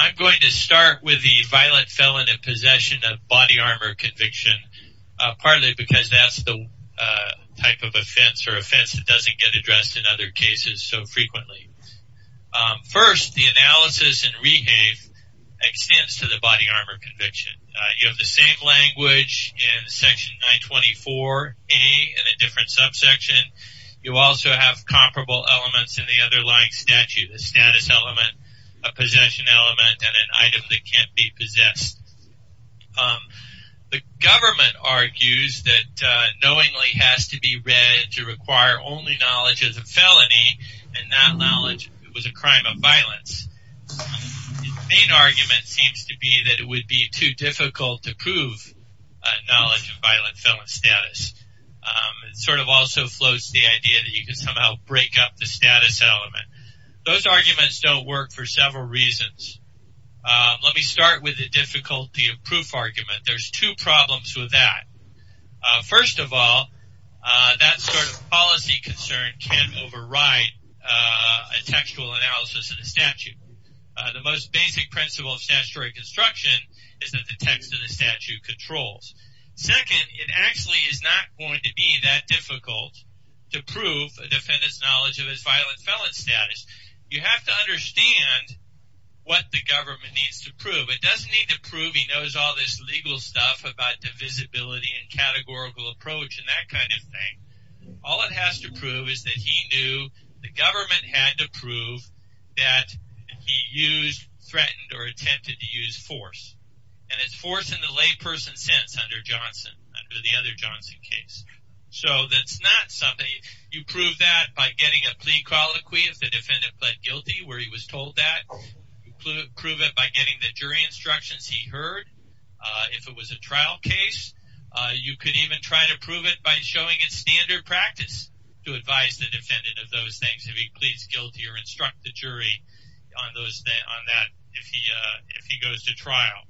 I'm going to start with the violent felon in possession of body armor conviction, partly because that's the type of offense or offense that doesn't get addressed in other cases so frequently. First, the analysis and rehave extends to the body armor conviction. You have the same language in section 924A in a different subsection. You also have comparable elements in the underlying statute, a status element, a possession element, and an item that can't be possessed. The government argues that knowingly has to be read to require only knowledge as a felony and not knowledge that it was a crime of violence. The main argument seems to be that it would be too difficult to prove knowledge of violent felon status. It sort of also floats the idea that you can somehow break up the status element. Those arguments don't work for several reasons. Let me start with the difficulty of proof argument. There's two problems with that. First of all, that sort of policy concern can override a textual analysis of the statute. The most basic principle of statutory construction is that the text of the statute controls. Second, it actually is not going to be that difficult to prove a defendant's knowledge of his violent felon status. You have to understand what the government needs to prove. It doesn't need to prove he knows all this legal stuff about divisibility and categorical approach and that kind of thing. All it has to prove is that he knew the government had to prove that he used, threatened, or attempted to use force. And it's force in the layperson sense under Johnson, under the other Johnson case. So that's not something – you prove that by getting a plea colloquy if the defendant pled guilty where he was told that. You prove it by getting the jury instructions he heard if it was a trial case. You could even try to prove it by showing it's standard practice to advise the defendant of those things if he pleads guilty or instruct the jury on that if he goes to trial.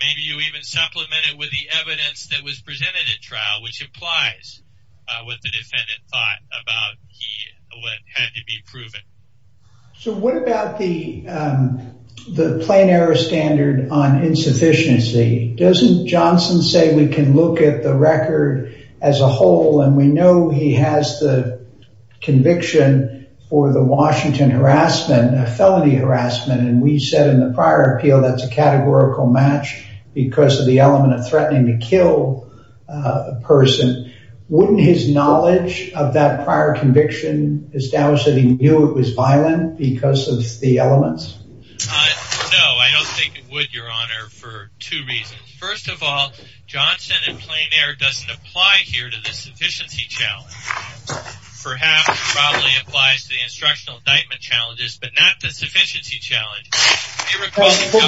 Maybe you even supplement it with the evidence that was presented at trial, which implies what the defendant thought about what had to be proven. So what about the plain error standard on insufficiency? Doesn't Johnson say we can look at the record as a whole and we know he has the conviction for the Washington harassment, a felony harassment? And we said in the prior appeal that's a categorical match because of the element of threatening to kill a person. Wouldn't his knowledge of that prior conviction establish that he knew it was violent because of the elements? No, I don't think it would, Your Honor, for two reasons. First of all, Johnson in plain error doesn't apply here to the sufficiency challenge. Perhaps probably applies to the instructional indictment challenges, but not the sufficiency challenge.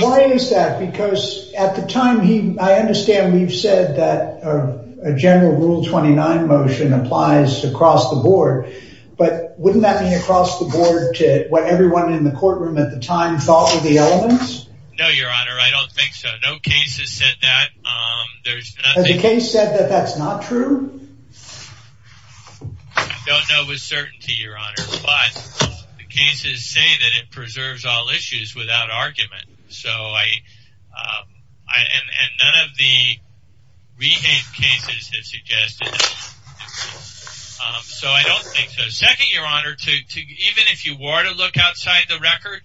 Why is that? Because at the time he I understand we've said that a general rule 29 motion applies across the board. But wouldn't that mean across the board to what everyone in the courtroom at the time thought were the elements? No, Your Honor, I don't think so. No case has said that. The case said that that's not true. I don't know with certainty, Your Honor, but the cases say that it preserves all issues without argument. So I and none of the cases have suggested. So I don't think so. Second, Your Honor, to even if you were to look outside the record,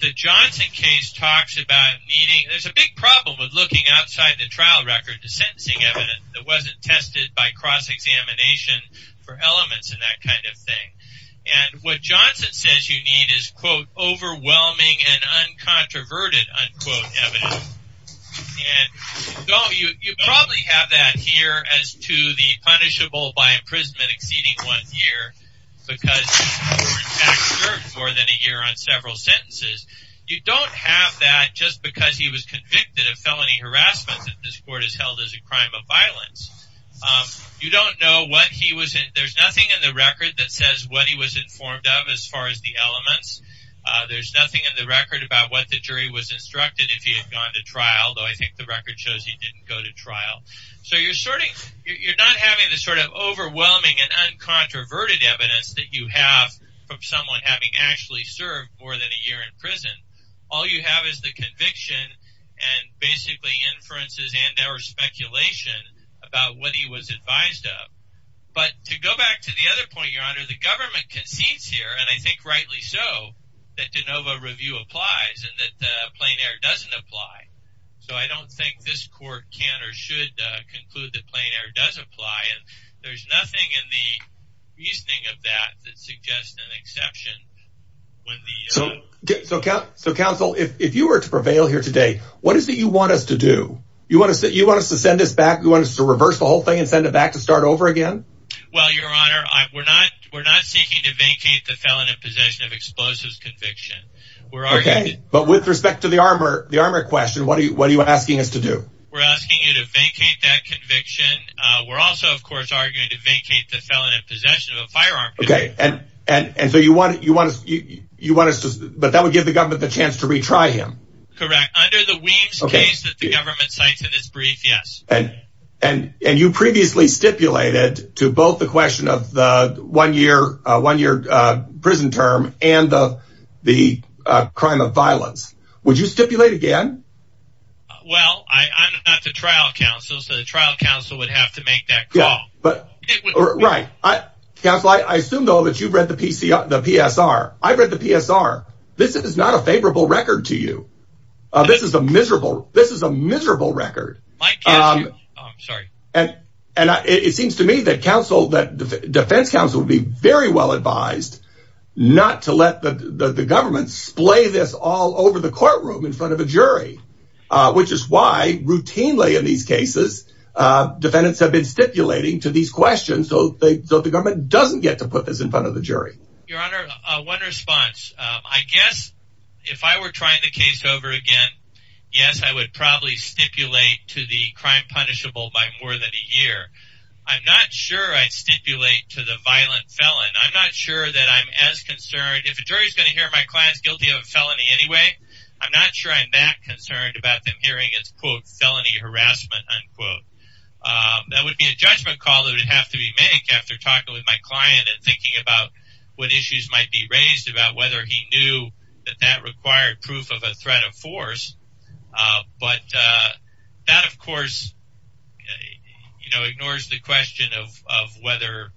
the Johnson case talks about meaning. There's a big problem with looking outside the trial record to sentencing evidence that wasn't tested by cross-examination for elements in that kind of thing. And what Johnson says you need is, quote, overwhelming and uncontroverted, unquote, evidence. And you probably have that here as to the punishable by imprisonment exceeding one year because more than a year on several sentences. You don't have that just because he was convicted of felony harassment that this court has held as a crime of violence. You don't know what he was in. There's nothing in the record that says what he was informed of as far as the elements. There's nothing in the record about what the jury was instructed if he had gone to trial, though I think the record shows he didn't go to trial. So you're not having the sort of overwhelming and uncontroverted evidence that you have from someone having actually served more than a year in prison. All you have is the conviction and basically inferences and or speculation about what he was advised of. But to go back to the other point, Your Honor, the government concedes here, and I think rightly so, that de novo review applies and that plein air doesn't apply. So I don't think this court can or should conclude that plein air does apply. And there's nothing in the reasoning of that that suggests an exception. So, counsel, if you were to prevail here today, what is it you want us to do? You want us to send this back? You want us to reverse the whole thing and send it back to start over again? Well, Your Honor, we're not seeking to vacate the felon in possession of explosives conviction. But with respect to the armor, the armor question, what are you what are you asking us to do? We're asking you to vacate that conviction. We're also, of course, arguing to vacate the felon in possession of a firearm. OK, and and so you want you want you want us to. But that would give the government the chance to retry him. Correct. Under the Weems case that the government cites in this brief, yes. And and and you previously stipulated to both the question of the one year, one year prison term and the the crime of violence. Would you stipulate again? Well, I'm not the trial counsel. So the trial counsel would have to make that call. But right. I guess I assume, though, that you've read the PC, the PSR. I've read the PSR. This is not a favorable record to you. This is a miserable. This is a miserable record. I'm sorry. And and it seems to me that counsel that the defense counsel would be very well advised not to let the government splay this all over the courtroom in front of a jury, which is why routinely in these cases defendants have been stipulating to these questions. So they thought the government doesn't get to put this in front of the jury. Your Honor, one response, I guess if I were trying to case over again, yes, I would probably stipulate to the crime punishable by more than a year. I'm not sure I'd stipulate to the violent felon. I'm not sure that I'm as concerned. If a jury is going to hear my client's guilty of a felony anyway, I'm not sure I'm that concerned about them hearing it's, quote, felony harassment. That would be a judgment call that would have to be made after talking with my client and thinking about what issues might be raised about whether he knew that that required proof of a threat of force. But that, of course, ignores the question of of whether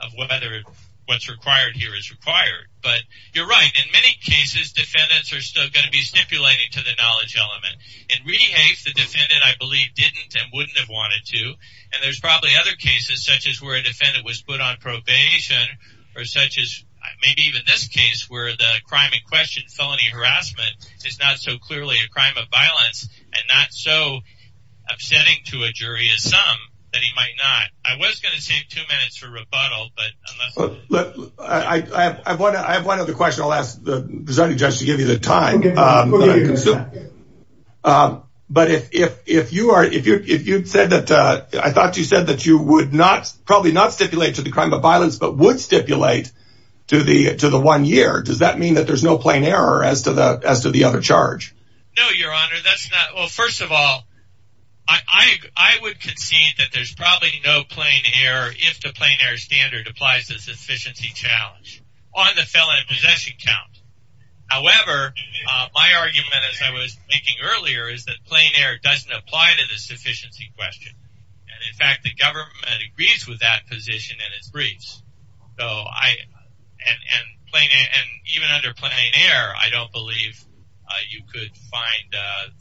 of whether what's required here is required. But you're right. In many cases, defendants are still going to be stipulating to the knowledge element. It really hates the defendant, I believe, didn't and wouldn't have wanted to. And there's probably other cases such as where a defendant was put on probation or such as maybe even this case where the crime in question, felony harassment is not so clearly a crime of violence and not so upsetting to a jury as some that he might not. I was going to say two minutes for rebuttal, but I have one. I have one other question. I'll ask the judge to give you the time. But if if if you are, if you if you'd said that, I thought you said that you would not probably not stipulate to the crime of violence, but would stipulate to the to the one year. Does that mean that there's no plain error as to the as to the other charge? No, Your Honor, that's not. Well, first of all, I, I would concede that there's probably no plain error if the plain air standard applies to sufficiency challenge on the felony possession count. However, my argument, as I was making earlier, is that plain air doesn't apply to the sufficiency question. And in fact, the government agrees with that position in its briefs. So I and plain and even under plain air, I don't believe you could find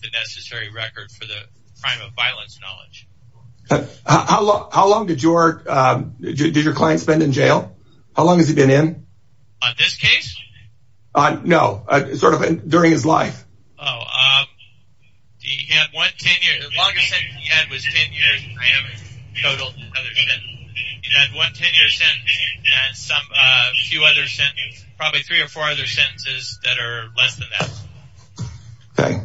the necessary record for the crime of violence knowledge. How long did your did your client spend in jail? How long has he been in this case? No, sort of during his life. He had one 10 year sentence, probably three or four other sentences that are less than that. Okay.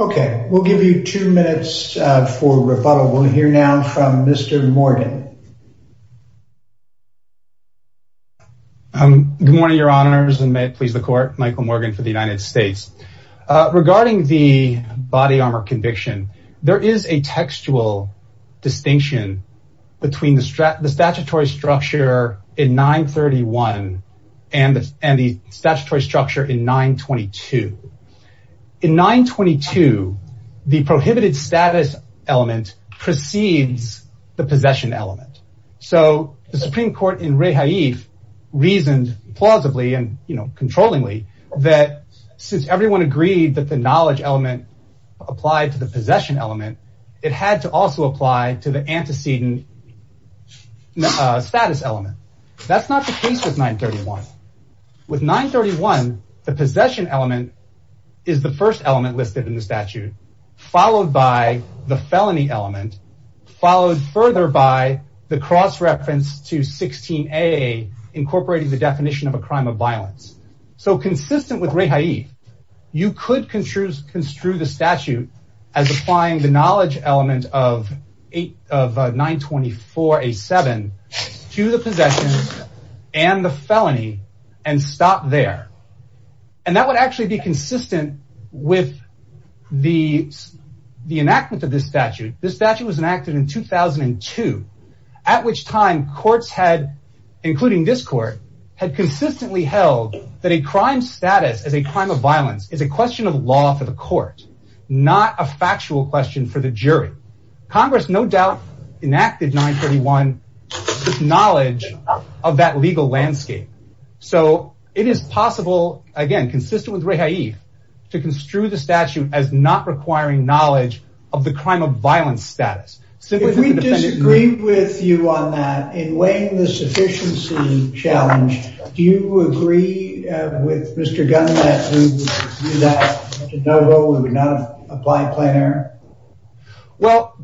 Okay, we'll give you two minutes for rebuttal. We'll hear now from Mr. Morgan. Good morning, Your Honors, and may it please the court, Michael Morgan for the United States. Regarding the body armor conviction, there is a textual distinction between the statutory structure in 931 and the statutory structure in 922. In 922, the prohibited status element precedes the possession element. So the Supreme Court in Rehaif reasoned plausibly and controllingly that since everyone agreed that the knowledge element applied to the possession element, it had to also apply to the antecedent status element. That's not the case with 931. With 931, the possession element is the first element listed in the statute, followed by the felony element, followed further by the cross-reference to 16a, incorporating the definition of a crime of violence. So consistent with Rehaif, you could construe the statute as applying the knowledge element of 924a7 to the possession and the felony and stop there. And that would actually be consistent with the enactment of this statute. This statute was enacted in 2002, at which time courts had, including this court, had consistently held that a crime status as a crime of violence is a question of law for the court, not a factual question for the jury. Congress no doubt enacted 931 with knowledge of that legal landscape. So it is possible, again, consistent with Rehaif, to construe the statute as not requiring knowledge of the crime of violence status. If we disagree with you on that, in weighing the sufficiency challenge, do you agree with Mr. Gunn that we would do that, we would not apply plain error? Well,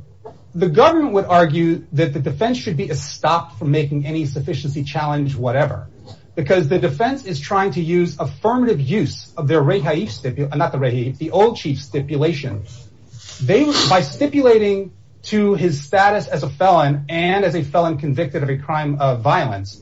the government would argue that the defense should be stopped from making any sufficiency challenge whatever, because the defense is trying to use affirmative use of the old chief stipulation. By stipulating to his status as a felon and as a felon convicted of a crime of violence,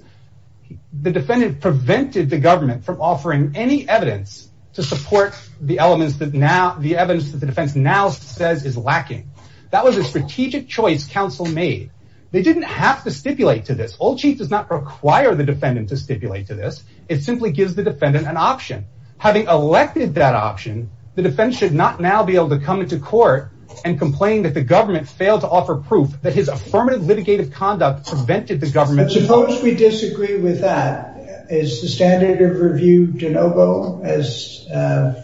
the defendant prevented the government from offering any evidence to support the evidence that the defense now says is lacking. That was a strategic choice counsel made. They didn't have to stipulate to this. Old chief does not require the defendant to stipulate to this. It simply gives the defendant an option. Having elected that option, the defense should not now be able to come into court and complain that the government failed to offer proof that his affirmative litigative conduct prevented the government from... Suppose we disagree with that. Is the standard of review de novo as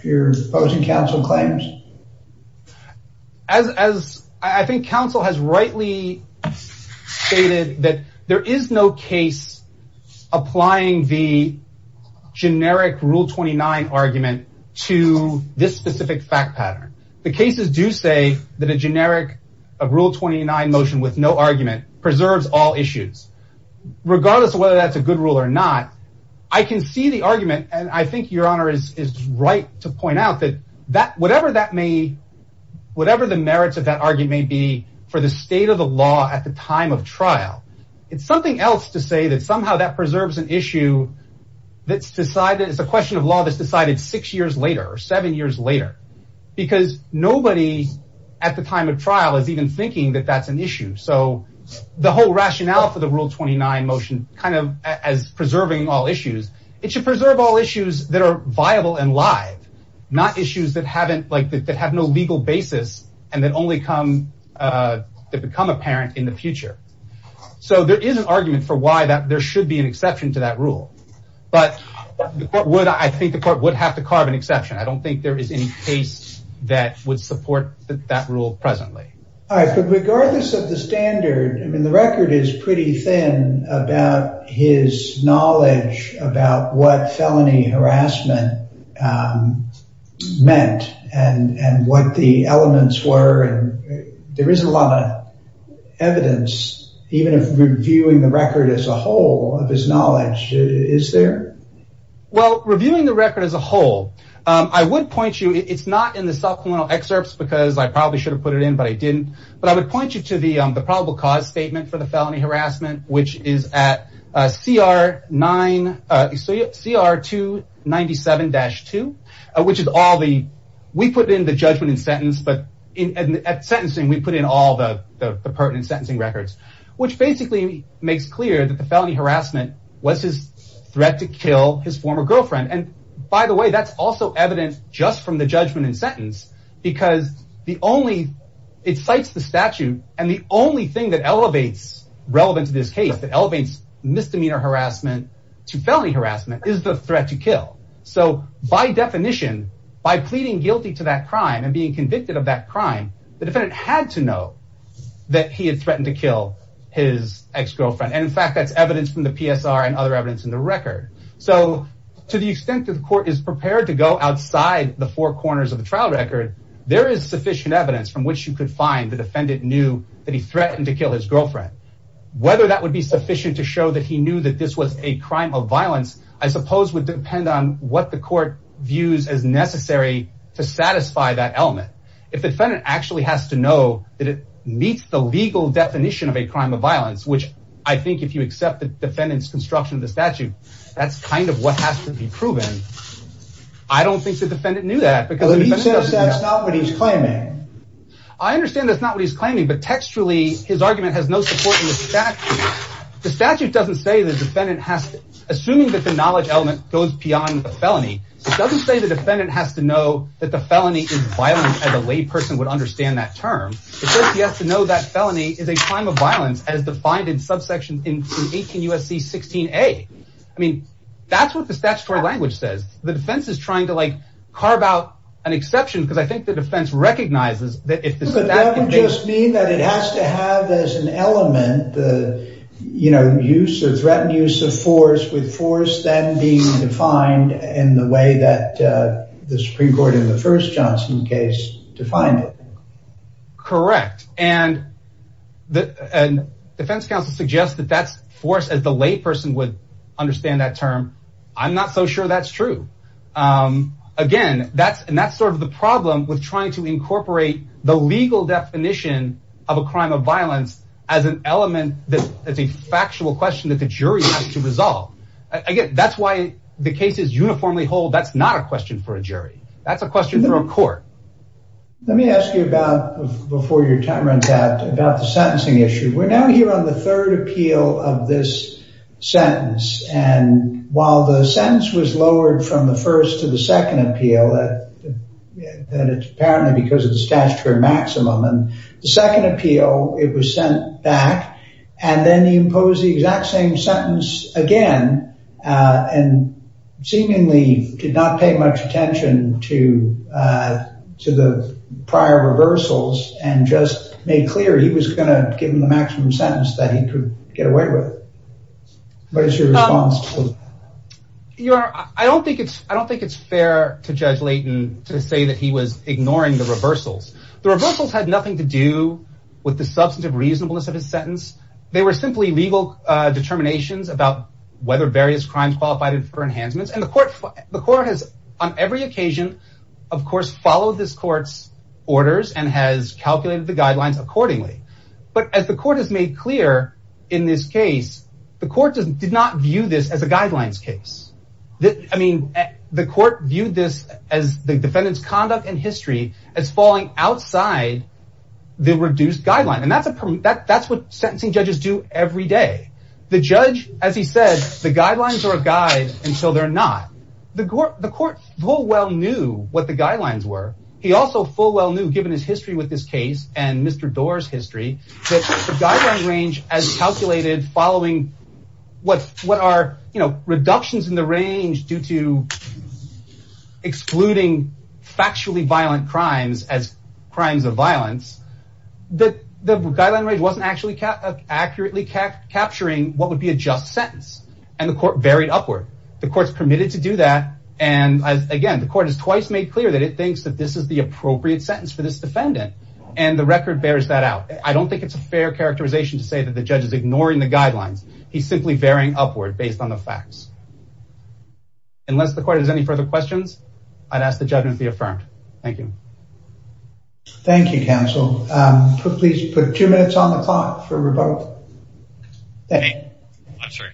your opposing counsel claims? As I think counsel has rightly stated that there is no case applying the generic rule 29 argument to this specific fact pattern. The cases do say that a generic rule 29 motion with no argument preserves all issues. Regardless of whether that is a good rule or not, I can see the argument and I think your honor is right to point out that whatever the merits of that argument may be for the state of the law at the time of trial. It is something else to say that somehow that preserves an issue that is a question of law that is decided six years later or seven years later. Nobody at the time of trial is even thinking that that is an issue. The whole rationale for the rule 29 motion as preserving all issues, it should preserve all issues that are viable and live. Not issues that have no legal basis and that become apparent in the future. There is an argument for why there should be an exception to that rule. I think the court would have to carve an exception. I don't think there is any case that would support that rule presently. Regardless of the standard, the record is pretty thin about his knowledge about what felony harassment meant and what the elements were. There is a lot of evidence, even reviewing the record as a whole, of his knowledge. Reviewing the record as a whole, I would point you to the probable cause statement for the felony harassment, which is at CR 297-2. We put in the judgment and sentence. At sentencing, we put in all the pertinent sentencing records, which basically makes clear that the felony harassment was his threat to kill his former girlfriend. By the way, that is also evidence just from the judgment and sentence because it cites the statute. The only thing that elevates relevant to this case, that elevates misdemeanor harassment to felony harassment, is the threat to kill. By definition, by pleading guilty to that crime and being convicted of that crime, the defendant had to know that he had threatened to kill his ex-girlfriend. In fact, that is evidence from the PSR and other evidence in the record. To the extent that the court is prepared to go outside the four corners of the trial record, there is sufficient evidence from which you could find the defendant knew that he threatened to kill his girlfriend. Whether that would be sufficient to show that he knew that this was a crime of violence, I suppose, would depend on what the court views as necessary to satisfy that element. If the defendant actually has to know that it meets the legal definition of a crime of violence, which I think if you accept the defendant's construction of the statute, that's kind of what has to be proven. I don't think the defendant knew that. He says that's not what he's claiming. I understand that's not what he's claiming, but textually, his argument has no support in the statute. The statute doesn't say the defendant has to, assuming that the knowledge element goes beyond the felony, it doesn't say the defendant has to know that the felony is violence as a lay person would understand that term. It says he has to know that felony is a crime of violence as defined in subsection 18 U.S.C. 16A. That's what the statutory language says. The defense is trying to carve out an exception because I think the defense recognizes that if the statute... But that doesn't just mean that it has to have as an element the threatened use of force with force then being defined in the way that the Supreme Court in the first Johnson case defined it. Correct. And defense counsel suggests that that's force as the lay person would understand that term. I'm not so sure that's true. Again, that's sort of the problem with trying to incorporate the legal definition of a crime of violence as an element that's a factual question that the jury has to resolve. Again, that's why the case is uniformly whole. That's not a question for a jury. That's a question for a court. Let me ask you about before your time runs out about the sentencing issue. We're now here on the third appeal of this sentence. And while the sentence was lowered from the first to the second appeal that it's apparently because of the statutory maximum and the second appeal, it was sent back. And then he imposed the exact same sentence again and seemingly did not pay much attention to the prior reversals and just made clear he was going to give him the maximum sentence that he could get away with. What is your response to that? I don't think it's fair to Judge Layton to say that he was ignoring the reversals. The reversals had nothing to do with the substantive reasonableness of his sentence. They were simply legal determinations about whether various crimes qualified for enhancements. And the court has on every occasion, of course, followed this court's orders and has calculated the guidelines accordingly. But as the court has made clear in this case, the court did not view this as a guidelines case. I mean, the court viewed this as the defendant's conduct and history as falling outside the reduced guideline. And that's what sentencing judges do every day. The judge, as he said, the guidelines are a guide until they're not. The court full well knew what the guidelines were. He also full well knew, given his history with this case and Mr. Doar's history, that the guideline range as calculated following what are reductions in the range due to excluding factually violent crimes as crimes of violence. The guideline range wasn't actually accurately capturing what would be a just sentence. And the court varied upward. The court's permitted to do that. And again, the court has twice made clear that it thinks that this is the appropriate sentence for this defendant. And the record bears that out. I don't think it's a fair characterization to say that the judge is ignoring the guidelines. He's simply varying upward based on the facts. Unless the court has any further questions, I'd ask the judge to be affirmed. Thank you. Thank you, counsel. Please put two minutes on the clock for rebuttal. I'm sorry.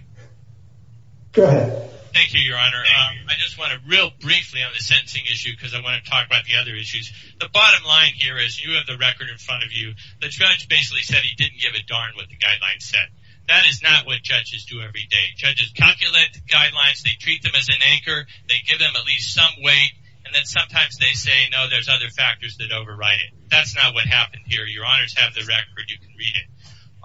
Go ahead. Thank you, Your Honor. I just want to real briefly on the sentencing issue because I want to talk about the other issues. The bottom line here is you have the record in front of you. The judge basically said he didn't give a darn what the guidelines said. That is not what judges do every day. Judges calculate guidelines. They treat them as an anchor. They give them at least some weight. And then sometimes they say, no, there's other factors that override it. That's not what happened here. Your Honors have the record. You can read it.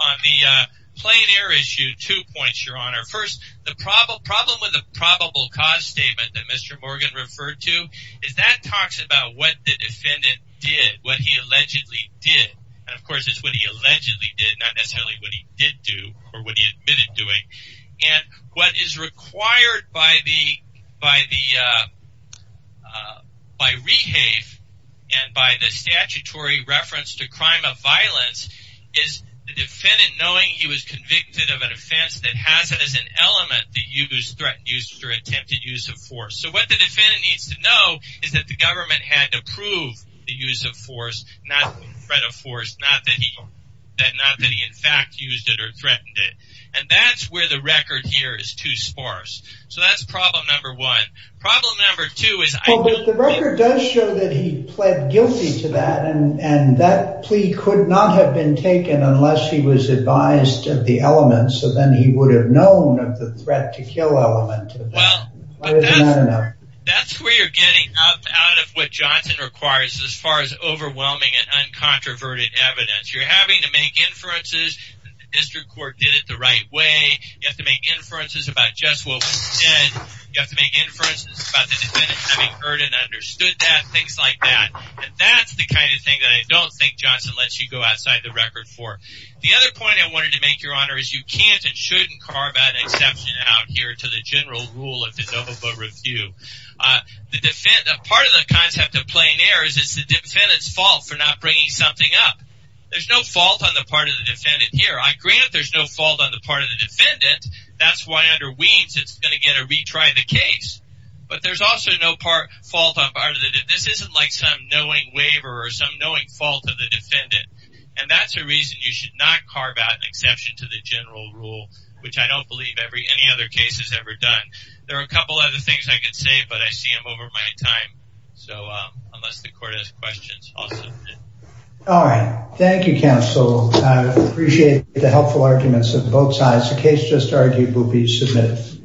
On the plain air issue, two points, Your Honor. First, the problem with the probable cause statement that Mr. Morgan referred to is that talks about what the defendant did, what he allegedly did. And, of course, it's what he allegedly did, not necessarily what he did do or what he admitted doing. And what is required by REHAVE and by the statutory reference to crime of violence is the defendant knowing he was convicted of an offense that has as an element the use, threatened use, or attempted use of force. So what the defendant needs to know is that the government had to prove the use of force, not the threat of force, not that he in fact used it or threatened it. And that's where the record here is too sparse. So that's problem number one. Problem number two is I don't think... Well, but the record does show that he pled guilty to that. And that plea could not have been taken unless he was advised of the elements. So then he would have known of the threat to kill element. Well, but that's where you're getting up out of what Johnson requires as far as overwhelming and uncontroverted evidence. You're having to make inferences that the district court did it the right way. You have to make inferences about just what was said. You have to make inferences about the defendant having heard and understood that, things like that. And that's the kind of thing that I don't think Johnson lets you go outside the record for. The other point I wanted to make, Your Honor, is you can't and shouldn't carve that exception out here to the general rule of the NOVA review. Part of the concept of plein air is it's the defendant's fault for not bringing something up. There's no fault on the part of the defendant here. I grant there's no fault on the part of the defendant. That's why under Weems it's going to get a retry of the case. But there's also no fault on the part of the defendant. This isn't like some knowing waiver or some knowing fault of the defendant. And that's a reason you should not carve out an exception to the general rule, which I don't believe any other case has ever done. There are a couple other things I could say, but I see I'm over my time. So unless the court has questions, I'll submit it. All right. Thank you, counsel. I appreciate the helpful arguments of both sides. The case just argued will be submitted.